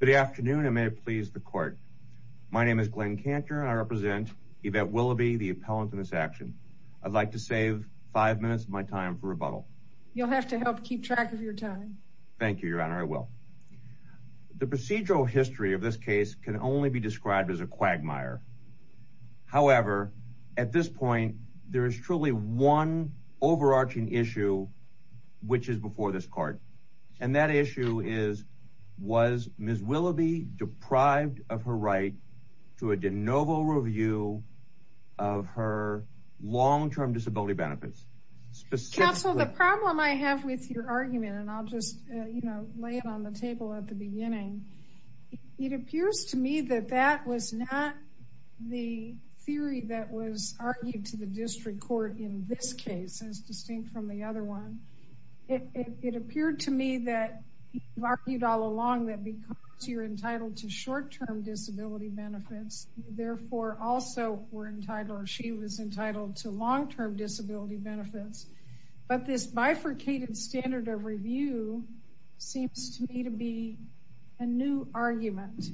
Good afternoon, and may it please the court. My name is Glenn Cantor, and I represent Yvette Williby, the appellant in this action. I'd like to save five minutes of my time for rebuttal. You'll have to help keep track of your time. Thank you, Your Honor. I will. The procedural history of this case can only be described as a quagmire. However, at this point, there is truly one overarching issue which is before this court. And that issue is, was Ms. Williby deprived of her right to a de novo review of her long-term disability benefits? Counsel, the problem I have with your argument, and I'll just lay it on the table at the beginning, it appears to me that that was not the theory that was argued to the district court in this case, as distinct from the other one. It appeared to me that you argued all along that because you're entitled to short-term disability benefits, you therefore also were entitled or she was entitled to long-term disability benefits. But this bifurcated standard of review seems to me to be a new argument.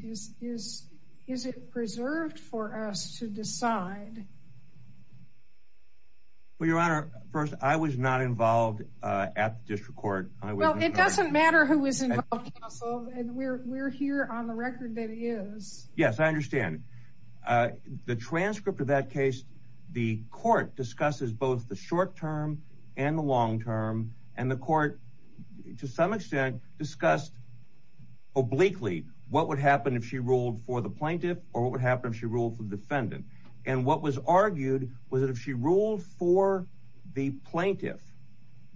Well, Your Honor, first, I was not involved at the district court. Well, it doesn't matter who was involved, Counsel, and we're here on the record that is. Yes, I understand. The transcript of that case, the court discusses both the short-term and the long-term, and the court, to some extent, discussed obliquely what would happen if she ruled for the plaintiff or what would happen if she ruled for the defendant. And what was argued was that if she ruled for the plaintiff,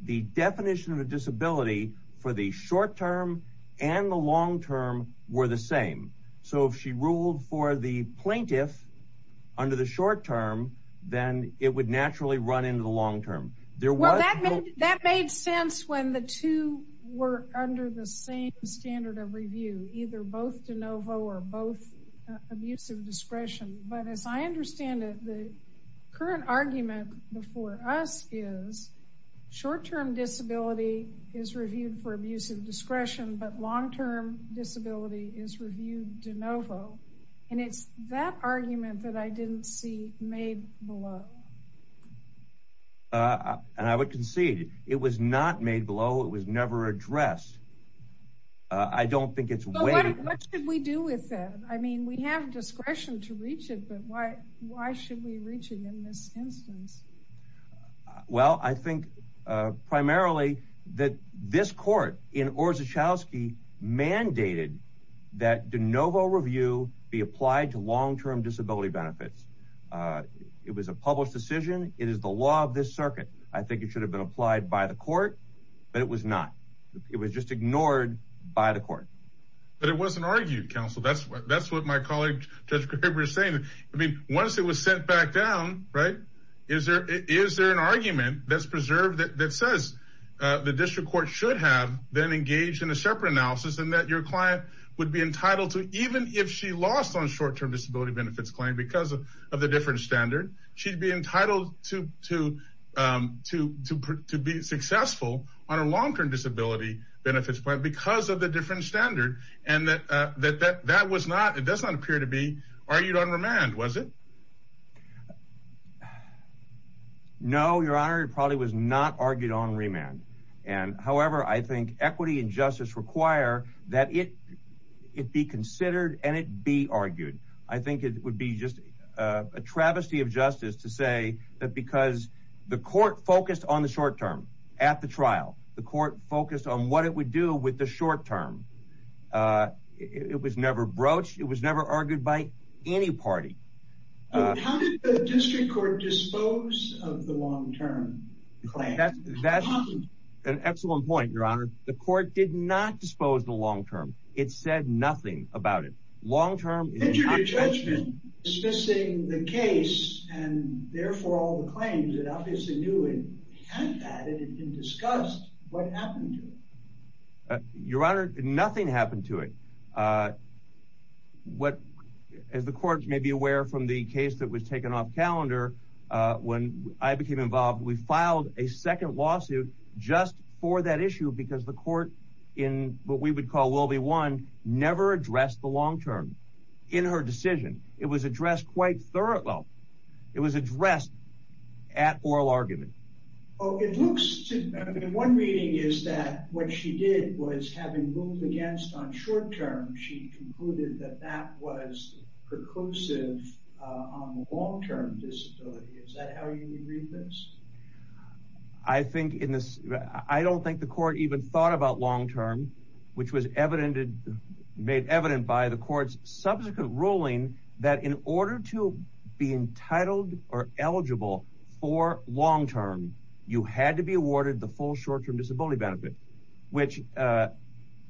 the definition of a disability for the short-term and the long-term were the same. So if she ruled for the plaintiff under the short-term, then it would naturally run into the long-term. Well, that made sense when the two were under the same standard of review, either both de novo or both abuse of discretion. But as I understand it, the current argument before us is short-term disability is reviewed for abuse of discretion, but long-term disability is reviewed de novo. And it's that argument that I didn't see made below. And I would concede, it was not made below. It was never addressed. So what should we do with that? I mean, we have discretion to reach it, but why should we reach it in this instance? Well, I think primarily that this court in Orszagowski mandated that de novo review be applied to long-term disability benefits. It was a published decision. It is the law of this circuit. I think it should have been applied by the court, but it was not. It was just ignored by the court. But it wasn't argued, counsel. That's what my colleague Judge Graber is saying. I mean, once it was sent back down, right, is there an argument that's preserved that says the district court should have then engaged in a separate analysis and that your client would be entitled to, even if she lost on a short-term disability benefits claim because of the different standard, she'd be entitled to be successful on a long-term disability benefits claim because of the different standard? And that that was not, it does not appear to be argued on remand, was it? No, Your Honor, it probably was not argued on remand. And however, I think equity and justice require that it be considered and it be argued. I think it would be just a travesty of justice to say that because the court focused on the short-term at the trial, the court focused on what it would do with the short-term. It was never broached. It was never argued by any party. How did the district court dispose of the long-term claim? That's an excellent point, Your Honor. The court did not dispose the long-term. It said nothing about it. Long-term... Did you do judgment dismissing the case and therefore all the claims? It obviously knew it had that and it discussed what happened to it. Your Honor, nothing happened to it. What, as the court may be aware from the case that was taken off calendar, when I became involved, we filed a second lawsuit just for that issue because the court, in what we would call Will v. One, never addressed the long-term in her decision. It was addressed at oral argument. One reading is that what she did was having ruled against on short-term, she concluded that that was preclusive on the long-term disability. Is that how you would read this? I don't think the court even thought about long-term, which was made evident by the court's subsequent ruling that in order to be entitled or eligible for long-term, you had to be awarded the full short-term disability benefit, which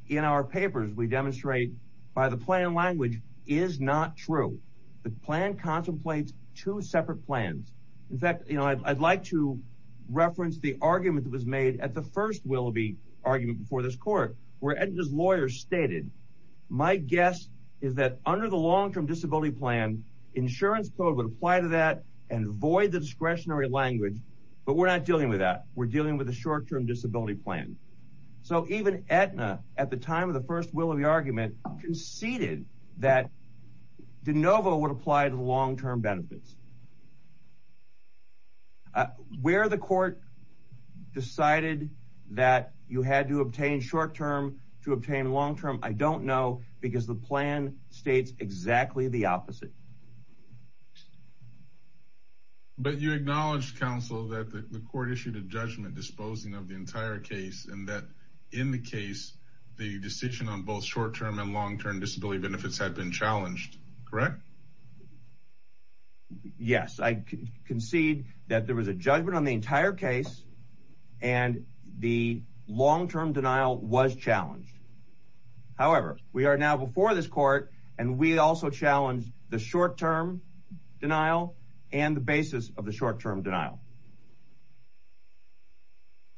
in our papers we demonstrate by the plan language is not true. The plan contemplates two separate plans. In fact, I'd like to reference the argument that was made at the first Will v. argument before this court where Edna's lawyer stated, my guess is that under the long-term disability plan, insurance code would apply to that and void the discretionary language, but we're not dealing with that. We're dealing with the short-term disability plan. So even Edna, at the time of the first Will v. argument, conceded that de novo would apply to the long-term benefits. Where the court decided that you had to obtain short-term to obtain long-term, I don't know, because the plan states exactly the opposite. But you acknowledge, counsel, that the court issued a judgment disposing of the entire case and that in the case, the decision on both short-term and long-term disability benefits had been challenged, correct? Yes, I concede that there was a judgment on the entire case and the long-term denial was challenged. However, we are now before this court and we also challenge the short-term denial and the basis of the short-term denial.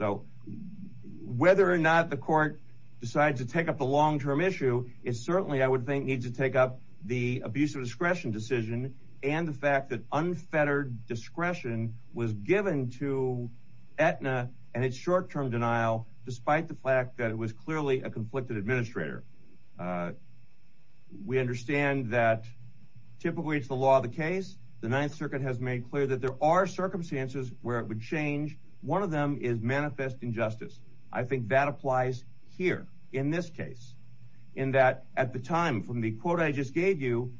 So whether or not the court decides to take up the long-term issue it certainly, I would think, needs to take up the abuse of discretion decision and the fact that unfettered discretion was given to Edna and its short-term denial despite the fact that it was clearly a conflicted administrator. We understand that typically it's the law of the case. The Ninth Circuit has made clear that there are circumstances where it would change. One of them is manifest injustice. I think that applies here in this case. In that, at the time, from the quote I just gave you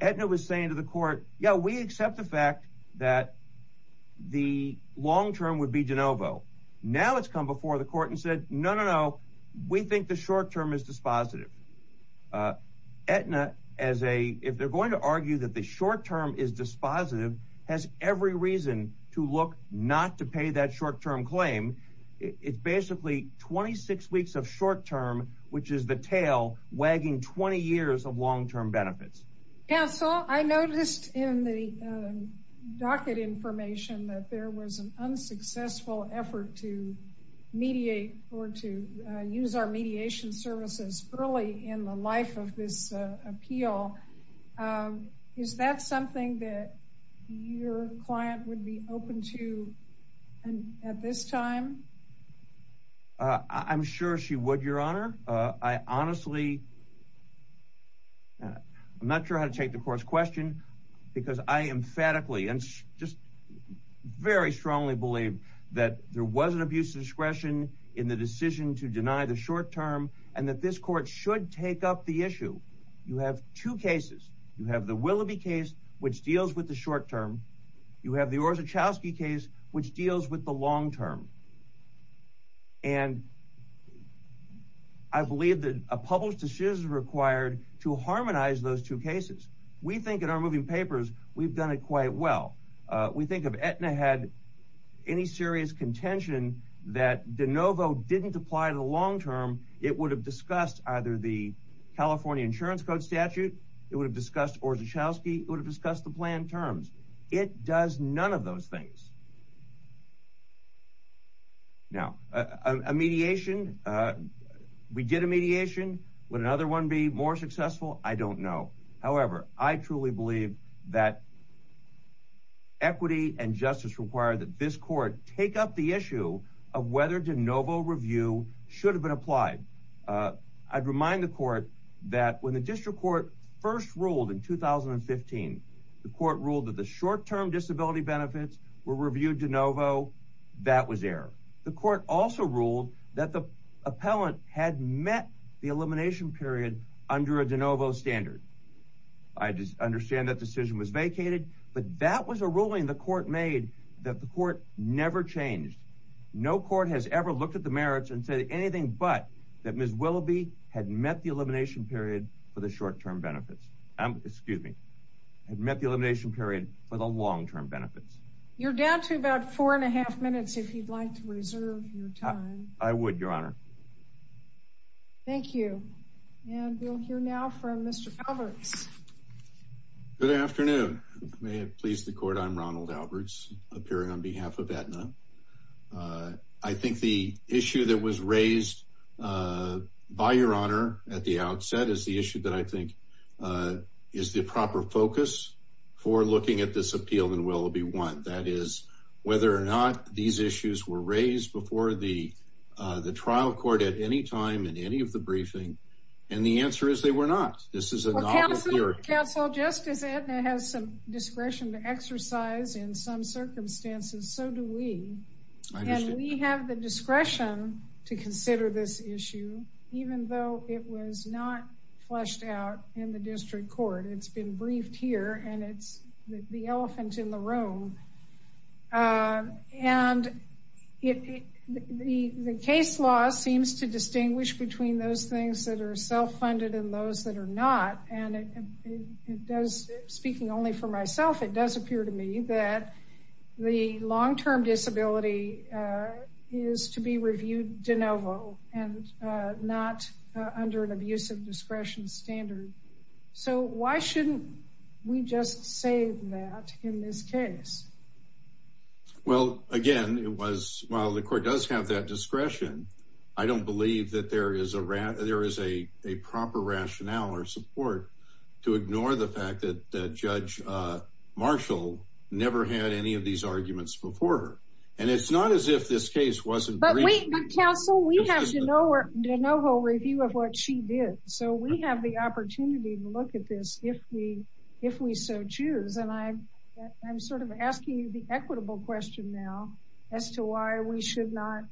Edna was saying to the court, yeah, we accept the fact that the long-term would be de novo. Now it's come before the court and said, no, no, no, we think the short-term is dispositive. Edna, if they're going to argue that the short-term is dispositive has every reason to look not to pay that short-term claim. It's basically 26 weeks of short-term which is the tail wagging 20 years of long-term benefits. Counsel, I noticed in the docket information that there was an unsuccessful effort to mediate or to use our mediation services early in the life of this appeal. Is that something that your client would be open to at this time? I'm sure she would, Your Honor. I honestly, I'm not sure how to take the court's question because I emphatically and just very strongly believe that there was an abuse of discretion in the decision to deny the short-term and that this court should take up the issue. You have two cases. You have the Willoughby case which deals with the short-term. You have the Orzechowski case which deals with the long-term. And I believe that a published decision is required to harmonize those two cases. We think in our moving papers we've done it quite well. We think if Edna had any serious contention that de novo didn't apply to the long-term it would have discussed either the California Insurance Code statute or Orzechowski, it would have discussed the planned terms. It does none of those things. Now, a mediation, we did a mediation. Would another one be more successful? I don't know. However, I truly believe that equity and justice require that this court take up the issue of whether de novo review should have been applied. I'd remind the court that when the district court first ruled in 2015, the court ruled that the short-term disability benefits were reviewed de novo, that was error. The court also ruled that the appellant had met the elimination period under a de novo standard. I understand that decision was vacated, but that was a ruling the court made that the court never changed. No court has ever looked at the merits and said anything but that Ms. Willoughby had met the elimination period for the short-term benefits. Excuse me. Had met the elimination period for the long-term benefits. You're down to about four and a half minutes if you'd like to reserve your time. I would, Your Honor. Thank you. And we'll hear now from Mr. Fowlers. Good afternoon. May it please the court. I'm Ronald Alberts, appearing on behalf of Aetna. I think the issue that was raised by Your Honor at the outset is the issue that I think is the proper focus for looking at this appeal in Willoughby 1. That is whether or not these issues were raised before the trial court at any time in any of the briefing. And the answer is they were not. This is a novel theory. Counsel, just as Aetna has some discretion to exercise in some circumstances, so do we. And we have the discretion to consider this issue, even though it was not fleshed out in the district court. It's been briefed here, and it's the elephant in the room. And the case law seems to distinguish between those things that are self-funded and those that are not. And speaking only for myself, it does appear to me that the long-term disability is to be reviewed de novo and not under an abusive discretion standard. So why shouldn't we just save that in this case? Well, again, while the court does have that discretion, I don't believe that there is a proper rationale or support to ignore the fact that Judge Marshall never had any of these arguments before her. And it's not as if this case wasn't briefed. But, counsel, we have de novo review of what she did. So we have the opportunity to look at this if we so choose. And I'm sort of asking the equitable question now as to why we should not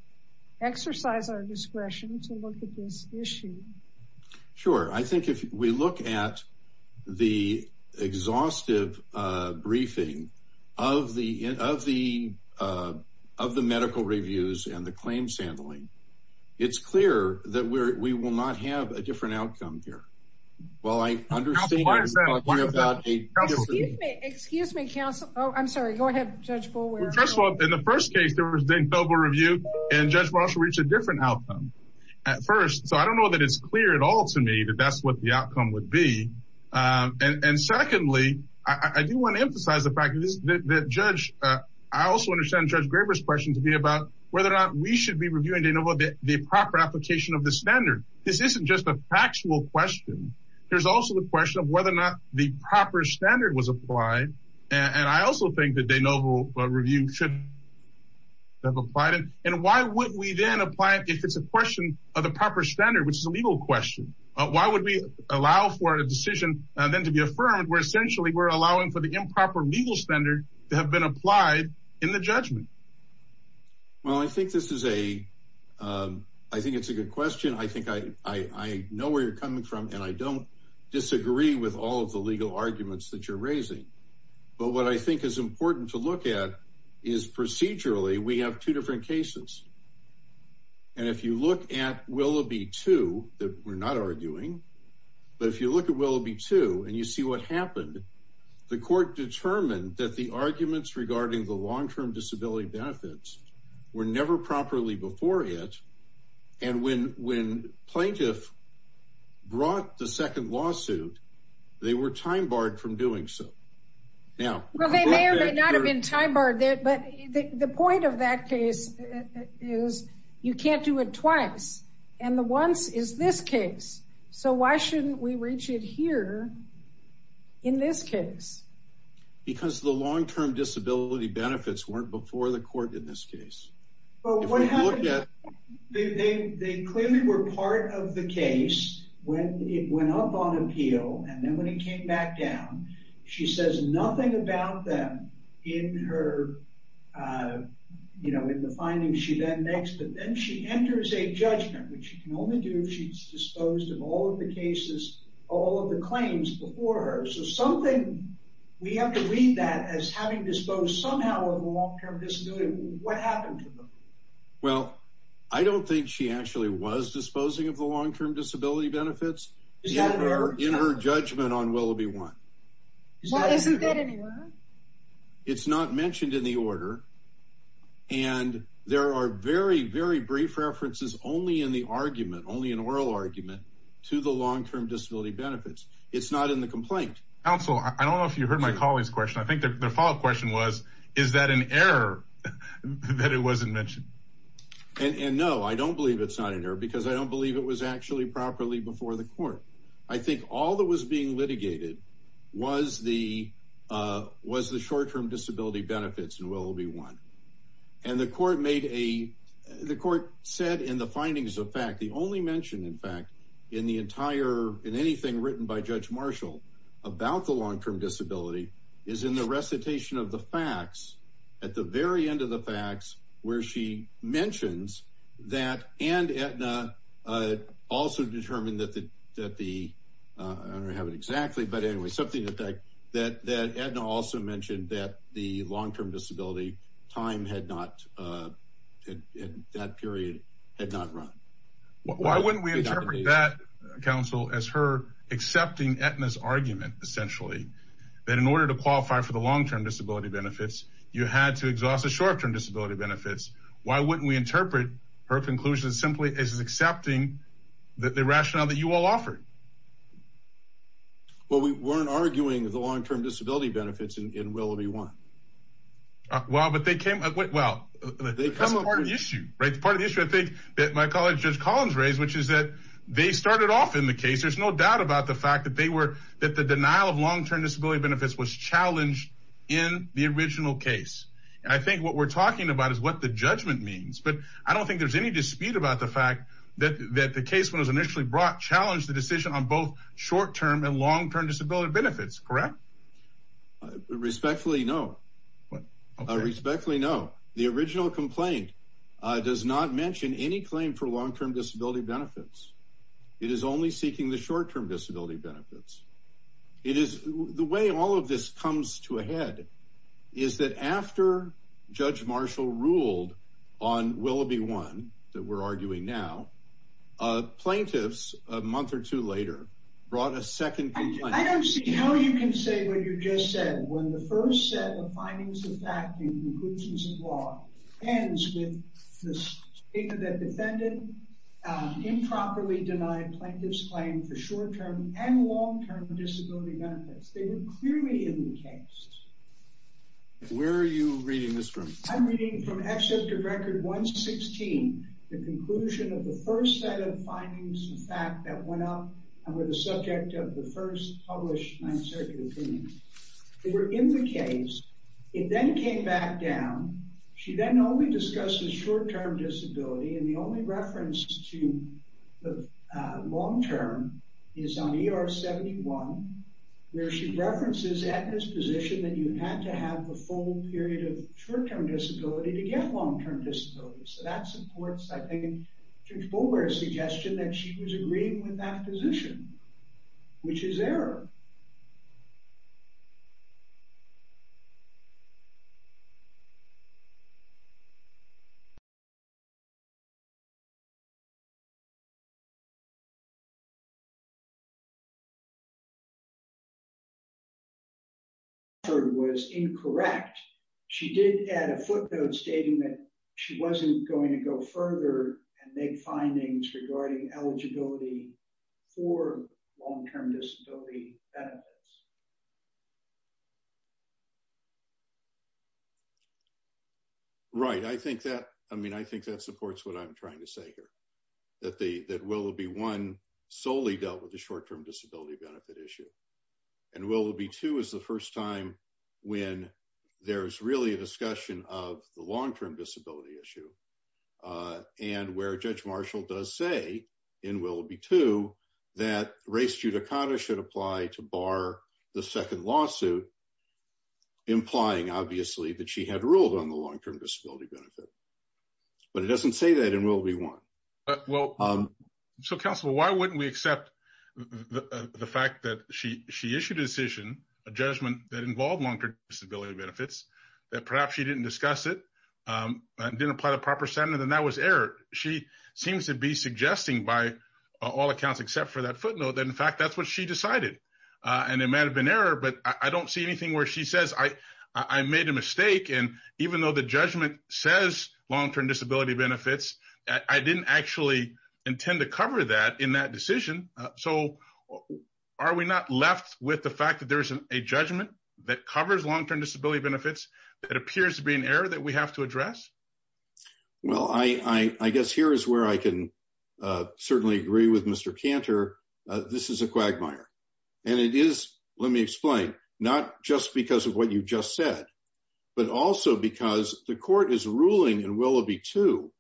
exercise our discretion to look at this issue. Sure. I think if we look at the exhaustive briefing of the medical reviews and the claim-sandling, it's clear that we will not have a different outcome here. While I understand what you're talking about. Excuse me, counsel. Oh, I'm sorry. Go ahead, Judge Boulware. Well, first of all, in the first case, there was de novo review, and Judge Marshall reached a different outcome at first. So I don't know that it's clear at all to me that that's what the outcome would be. And secondly, I do want to emphasize the fact that Judge – I also understand Judge Graber's question to be about whether or not we should be reviewing de novo, the proper application of the standard. This isn't just a factual question. There's also the question of whether or not the proper standard was applied. And I also think that de novo review should have applied it. And why wouldn't we then apply it if it's a question of the proper standard, which is a legal question? Why would we allow for a decision then to be affirmed where essentially we're allowing for the improper legal standard to have been applied in the judgment? Well, I think this is a – I think it's a good question. I think I know where you're coming from, and I don't disagree with all of the legal arguments that you're raising. But what I think is important to look at is procedurally we have two different cases. And if you look at Willoughby 2, that we're not arguing, but if you look at Willoughby 2 and you see what happened, the court determined that the arguments regarding the long-term disability benefits were never properly before it. And when plaintiff brought the second lawsuit, they were time-barred from doing so. Well, they may or may not have been time-barred, but the point of that case is you can't do it twice. And the once is this case. So why shouldn't we reach it here in this case? Because the long-term disability benefits weren't before the court in this case. If you look at – They clearly were part of the case when it went up on appeal, and then when it came back down, she says nothing about them in her – you know, in the findings she then makes. But then she enters a judgment, which she can only do if she's disposed of all of the cases, all of the claims before her. So something – we have to read that as having disposed somehow of a long-term disability. What happened to them? Well, I don't think she actually was disposing of the long-term disability benefits. Is that an error? In her judgment on Willoughby 1. Well, isn't that an error? It's not mentioned in the order, and there are very, very brief references only in the argument, only in oral argument, to the long-term disability benefits. It's not in the complaint. Counsel, I don't know if you heard my colleague's question. I think the follow-up question was, is that an error that it wasn't mentioned? And no, I don't believe it's not an error because I don't believe it was actually properly before the court. I think all that was being litigated was the short-term disability benefits in Willoughby 1. And the court made a – the court said in the findings of fact, the only mention, in fact, in the entire – in anything written by Judge Marshall about the long-term disability is in the recitation of the facts at the very end of the facts where she mentions that and Aetna also determined that the – I don't have it exactly, but anyway, something that Aetna also mentioned that the long-term disability time had not – that period had not run. Why wouldn't we interpret that, counsel, as her accepting Aetna's argument, essentially, that in order to qualify for the long-term disability benefits, you had to exhaust the short-term disability benefits? Why wouldn't we interpret her conclusion simply as accepting the rationale that you all offered? Well, we weren't arguing the long-term disability benefits in Willoughby 1. Well, but they came – well, that's part of the issue, right? That's part of the issue I think that my colleague Judge Collins raised, which is that they started off in the case. There's no doubt about the fact that they were – that the denial of long-term disability benefits was challenged in the original case. And I think what we're talking about is what the judgment means, but I don't think there's any dispute about the fact that the case was initially brought – challenged the decision on both short-term and long-term disability benefits, correct? Respectfully, no. What? Okay. Respectfully, no. The original complaint does not mention any claim for long-term disability benefits. It is only seeking the short-term disability benefits. It is – the way all of this comes to a head is that after Judge Marshall ruled on Willoughby 1, that we're arguing now, plaintiffs, a month or two later, brought a second complaint. I don't see how you can say what you just said when the first set of findings of fact and conclusions of law ends with the statement that defendant improperly denied plaintiff's claim for short-term and long-term disability benefits. They were clearly in the case. Where are you reading this from? I'm reading from Excerpt of Record 116, the conclusion of the first set of findings of fact that went up and were the subject of the first published Ninth Circuit opinion. They were in the case. It then came back down. She then only discussed the short-term disability, and the only reference to the long-term is on ER 71, where she references Edna's position that you had to have the full period of short-term disability to get long-term disability. So that supports, I think, Judge Boulware's suggestion that she was agreeing with that position, which is error. Thank you. ...was incorrect. She did add a footnote stating that she wasn't going to go further and make findings regarding eligibility for long-term disability benefits. Right. I think that supports what I'm trying to say here, that Willoughby 1 solely dealt with the short-term disability benefit issue, and Willoughby 2 is the first time when there's really a discussion of the long-term disability issue, and where Judge Marshall does say in Willoughby 2 that race judicata should apply to bar the second lawsuit implying, obviously, that she had ruled on the long-term disability benefit. But it doesn't say that in Willoughby 1. Well, so, Counselor, why wouldn't we accept the fact that she issued a decision, a judgment that involved long-term disability benefits, that perhaps she didn't discuss it, didn't apply the proper standard, and that was error? She seems to be suggesting by all accounts except for that footnote that, in fact, that's what she decided, and it might have been error, but I don't see anything where she says, I made a mistake, and even though the judgment says long-term disability benefits, I didn't actually intend to cover that in that decision. So are we not left with the fact that there is a judgment that covers long-term disability benefits that appears to be an error that we have to address? Well, I guess here is where I can certainly agree with Mr. Cantor. This is a quagmire, and it is, let me explain, not just because of what you just said, but also because the court is ruling in Willoughby 2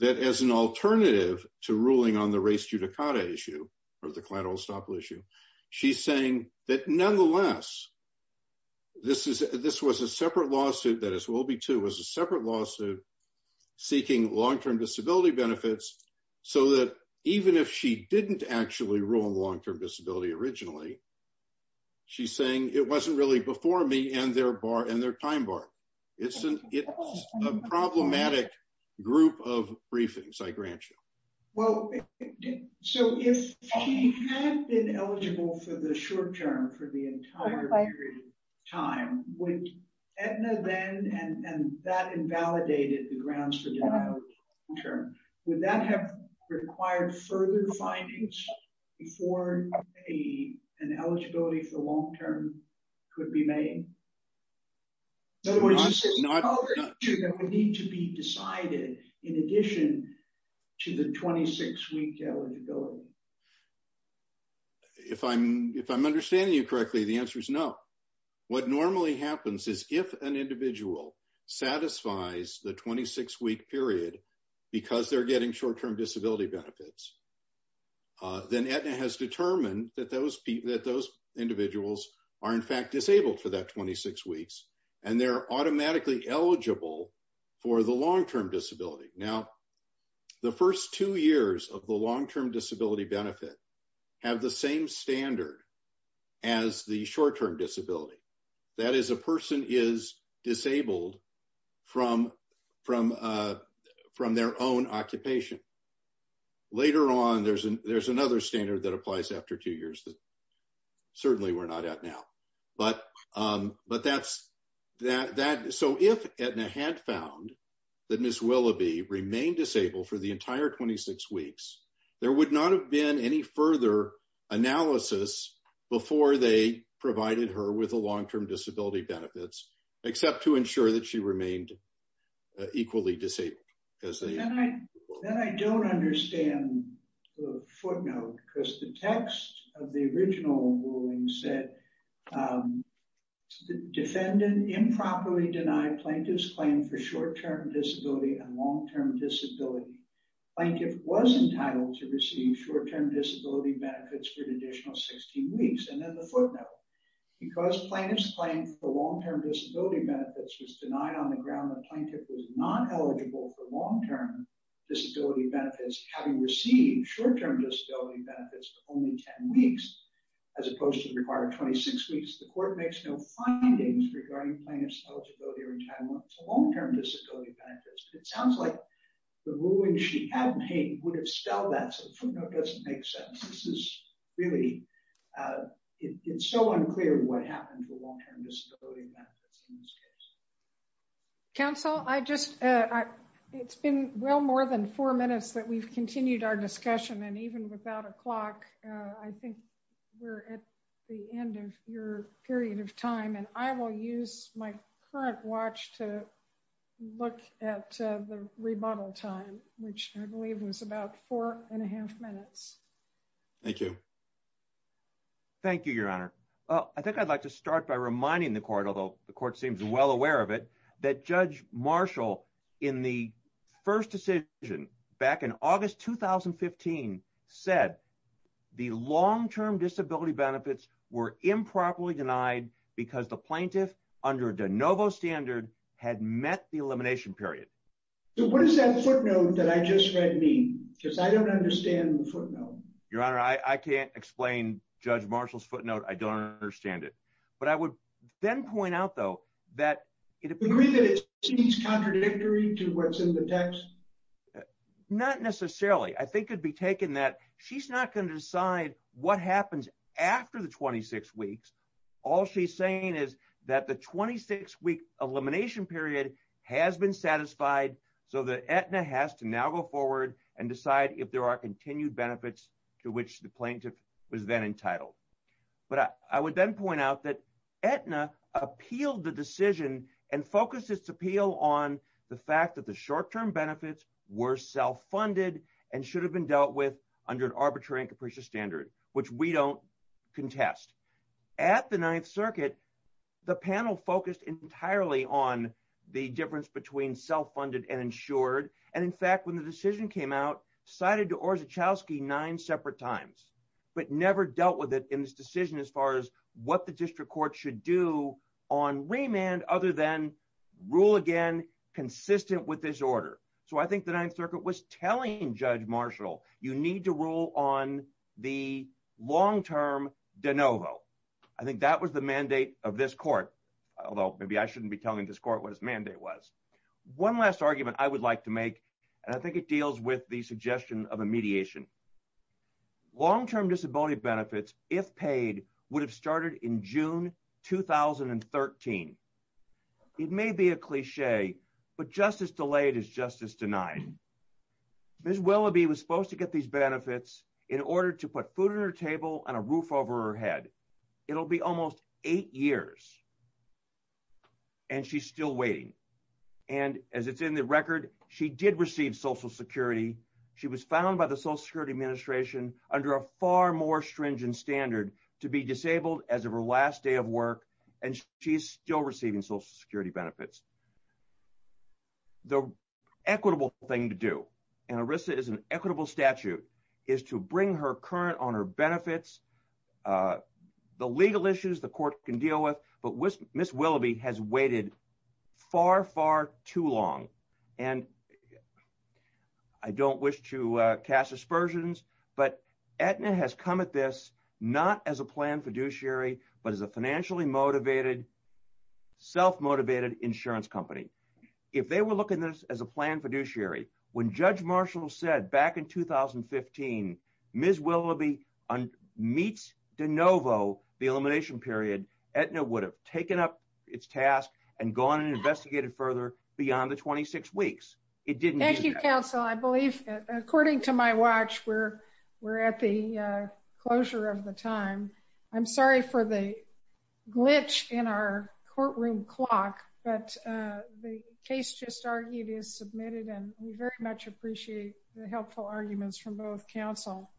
that as an alternative to ruling on the race judicata issue or the collateral estoppel issue, she's saying that, nonetheless, this was a separate lawsuit, that is, Willoughby 2 was a separate lawsuit seeking long-term disability benefits so that even if she didn't actually rule on long-term disability originally, she's saying it wasn't really before me and their time bar. It's a problematic group of briefings, I grant you. Well, so if she had been eligible for the short term for the entire period of time, would Aetna then, and that invalidated the grounds for denial of long-term, would that have required further findings before an eligibility for long-term could be made? In other words, this is an issue that would need to be decided in addition to the 26-week eligibility. If I'm understanding you correctly, the answer is no. What normally happens is if an individual satisfies the 26-week period because they're getting short-term disability benefits, then Aetna has determined that those individuals are in fact disabled for that 26 weeks and they're automatically eligible for the long-term disability. Now, the first two years of the long-term disability benefit have the same standard as the short-term disability. That is a person is disabled from their own occupation. Later on, there's another standard that applies after two years that certainly we're not at now. But that's that. So if Aetna had found that Ms. Willoughby remained disabled for the entire 26 weeks, there would not have been any further analysis before they provided her with a long-term disability benefits, except to ensure that she remained equally disabled. Then I don't understand the footnote because the text of the original ruling said, defendant improperly denied plaintiff's claim for short-term disability and long-term disability. Plaintiff was entitled to receive short-term disability benefits for an additional 16 weeks. And then the footnote, because plaintiff's claim for long-term disability benefits was denied on the ground that plaintiff was not eligible for long-term disability benefits, having received short-term disability benefits for only 10 weeks, as opposed to the required 26 weeks, the court makes no findings regarding plaintiff's eligibility or entitlement to long-term disability benefits. It sounds like the ruling she had made would have spelled that, so the footnote doesn't make sense. This is really, it's so unclear what happened to long-term disability benefits in this case. Counsel, I just, it's been well more than four minutes that we've continued our discussion, and even without a clock, I think we're at the end of your period of time, and I will use my current watch to look at the rebuttal time, which I believe was about four and a half minutes. Thank you. Thank you, Your Honor. I think I'd like to start by reminding the court, although the court seems well aware of it, that Judge Marshall, in the first decision back in August 2015, said the long-term disability benefits were improperly denied because the plaintiff, under de novo standard, had met the elimination period. So what does that footnote that I just read mean? Because I don't understand the footnote. Your Honor, I can't explain Judge Marshall's footnote. I don't understand it. But I would then point out, though, that... Do you agree that it seems contradictory to what's in the text? Not necessarily. I think it would be taken that she's not going to decide what happens after the 26 weeks. All she's saying is that the 26-week elimination period has been satisfied, so that Aetna has to now go forward and decide if there are continued benefits to which the plaintiff was then entitled. But I would then point out that Aetna appealed the decision and focused its appeal on the fact that the short-term benefits were self-funded and should have been dealt with under an arbitrary and capricious standard, which we don't contest. At the Ninth Circuit, the panel focused entirely on the difference between self-funded and insured. And in fact, when the decision came out, it was cited to Orszagowski nine separate times, but never dealt with it in this decision as far as what the district court should do on remand, other than rule again consistent with this order. So I think the Ninth Circuit was telling Judge Marshall, you need to rule on the long-term de novo. I think that was the mandate of this court, although maybe I shouldn't be telling this court what his mandate was. One last argument I would like to make, and I think it deals with the suggestion of a mediation. Long-term disability benefits, if paid, would have started in June 2013. It may be a cliche, but justice delayed is justice denied. Ms. Willoughby was supposed to get these benefits in order to put food on her table and a roof over her head. It'll be almost eight years. And she's still waiting. And as it's in the record, she did receive Social Security. She was found by the Social Security Administration under a far more stringent standard to be disabled as of her last day of work. And she's still receiving Social Security benefits. The equitable thing to do, and ERISA is an equitable statute, is to bring her current on her benefits, the legal issues the court can deal with. But Ms. Willoughby has waited far, far too long. And I don't wish to cast aspersions, but Aetna has come at this not as a planned fiduciary, but as a financially motivated, self-motivated insurance company. If they were looking at this as a planned fiduciary, when Judge Marshall said back in 2015, Ms. Willoughby meets de novo the elimination period, Aetna would have taken up its task and gone and investigated further beyond the 26 weeks. Thank you, counsel. I believe, according to my watch, we're at the closure of the time. I'm sorry for the glitch in our courtroom clock, but the case just argued is submitted, and we very much appreciate the helpful arguments from both counsel.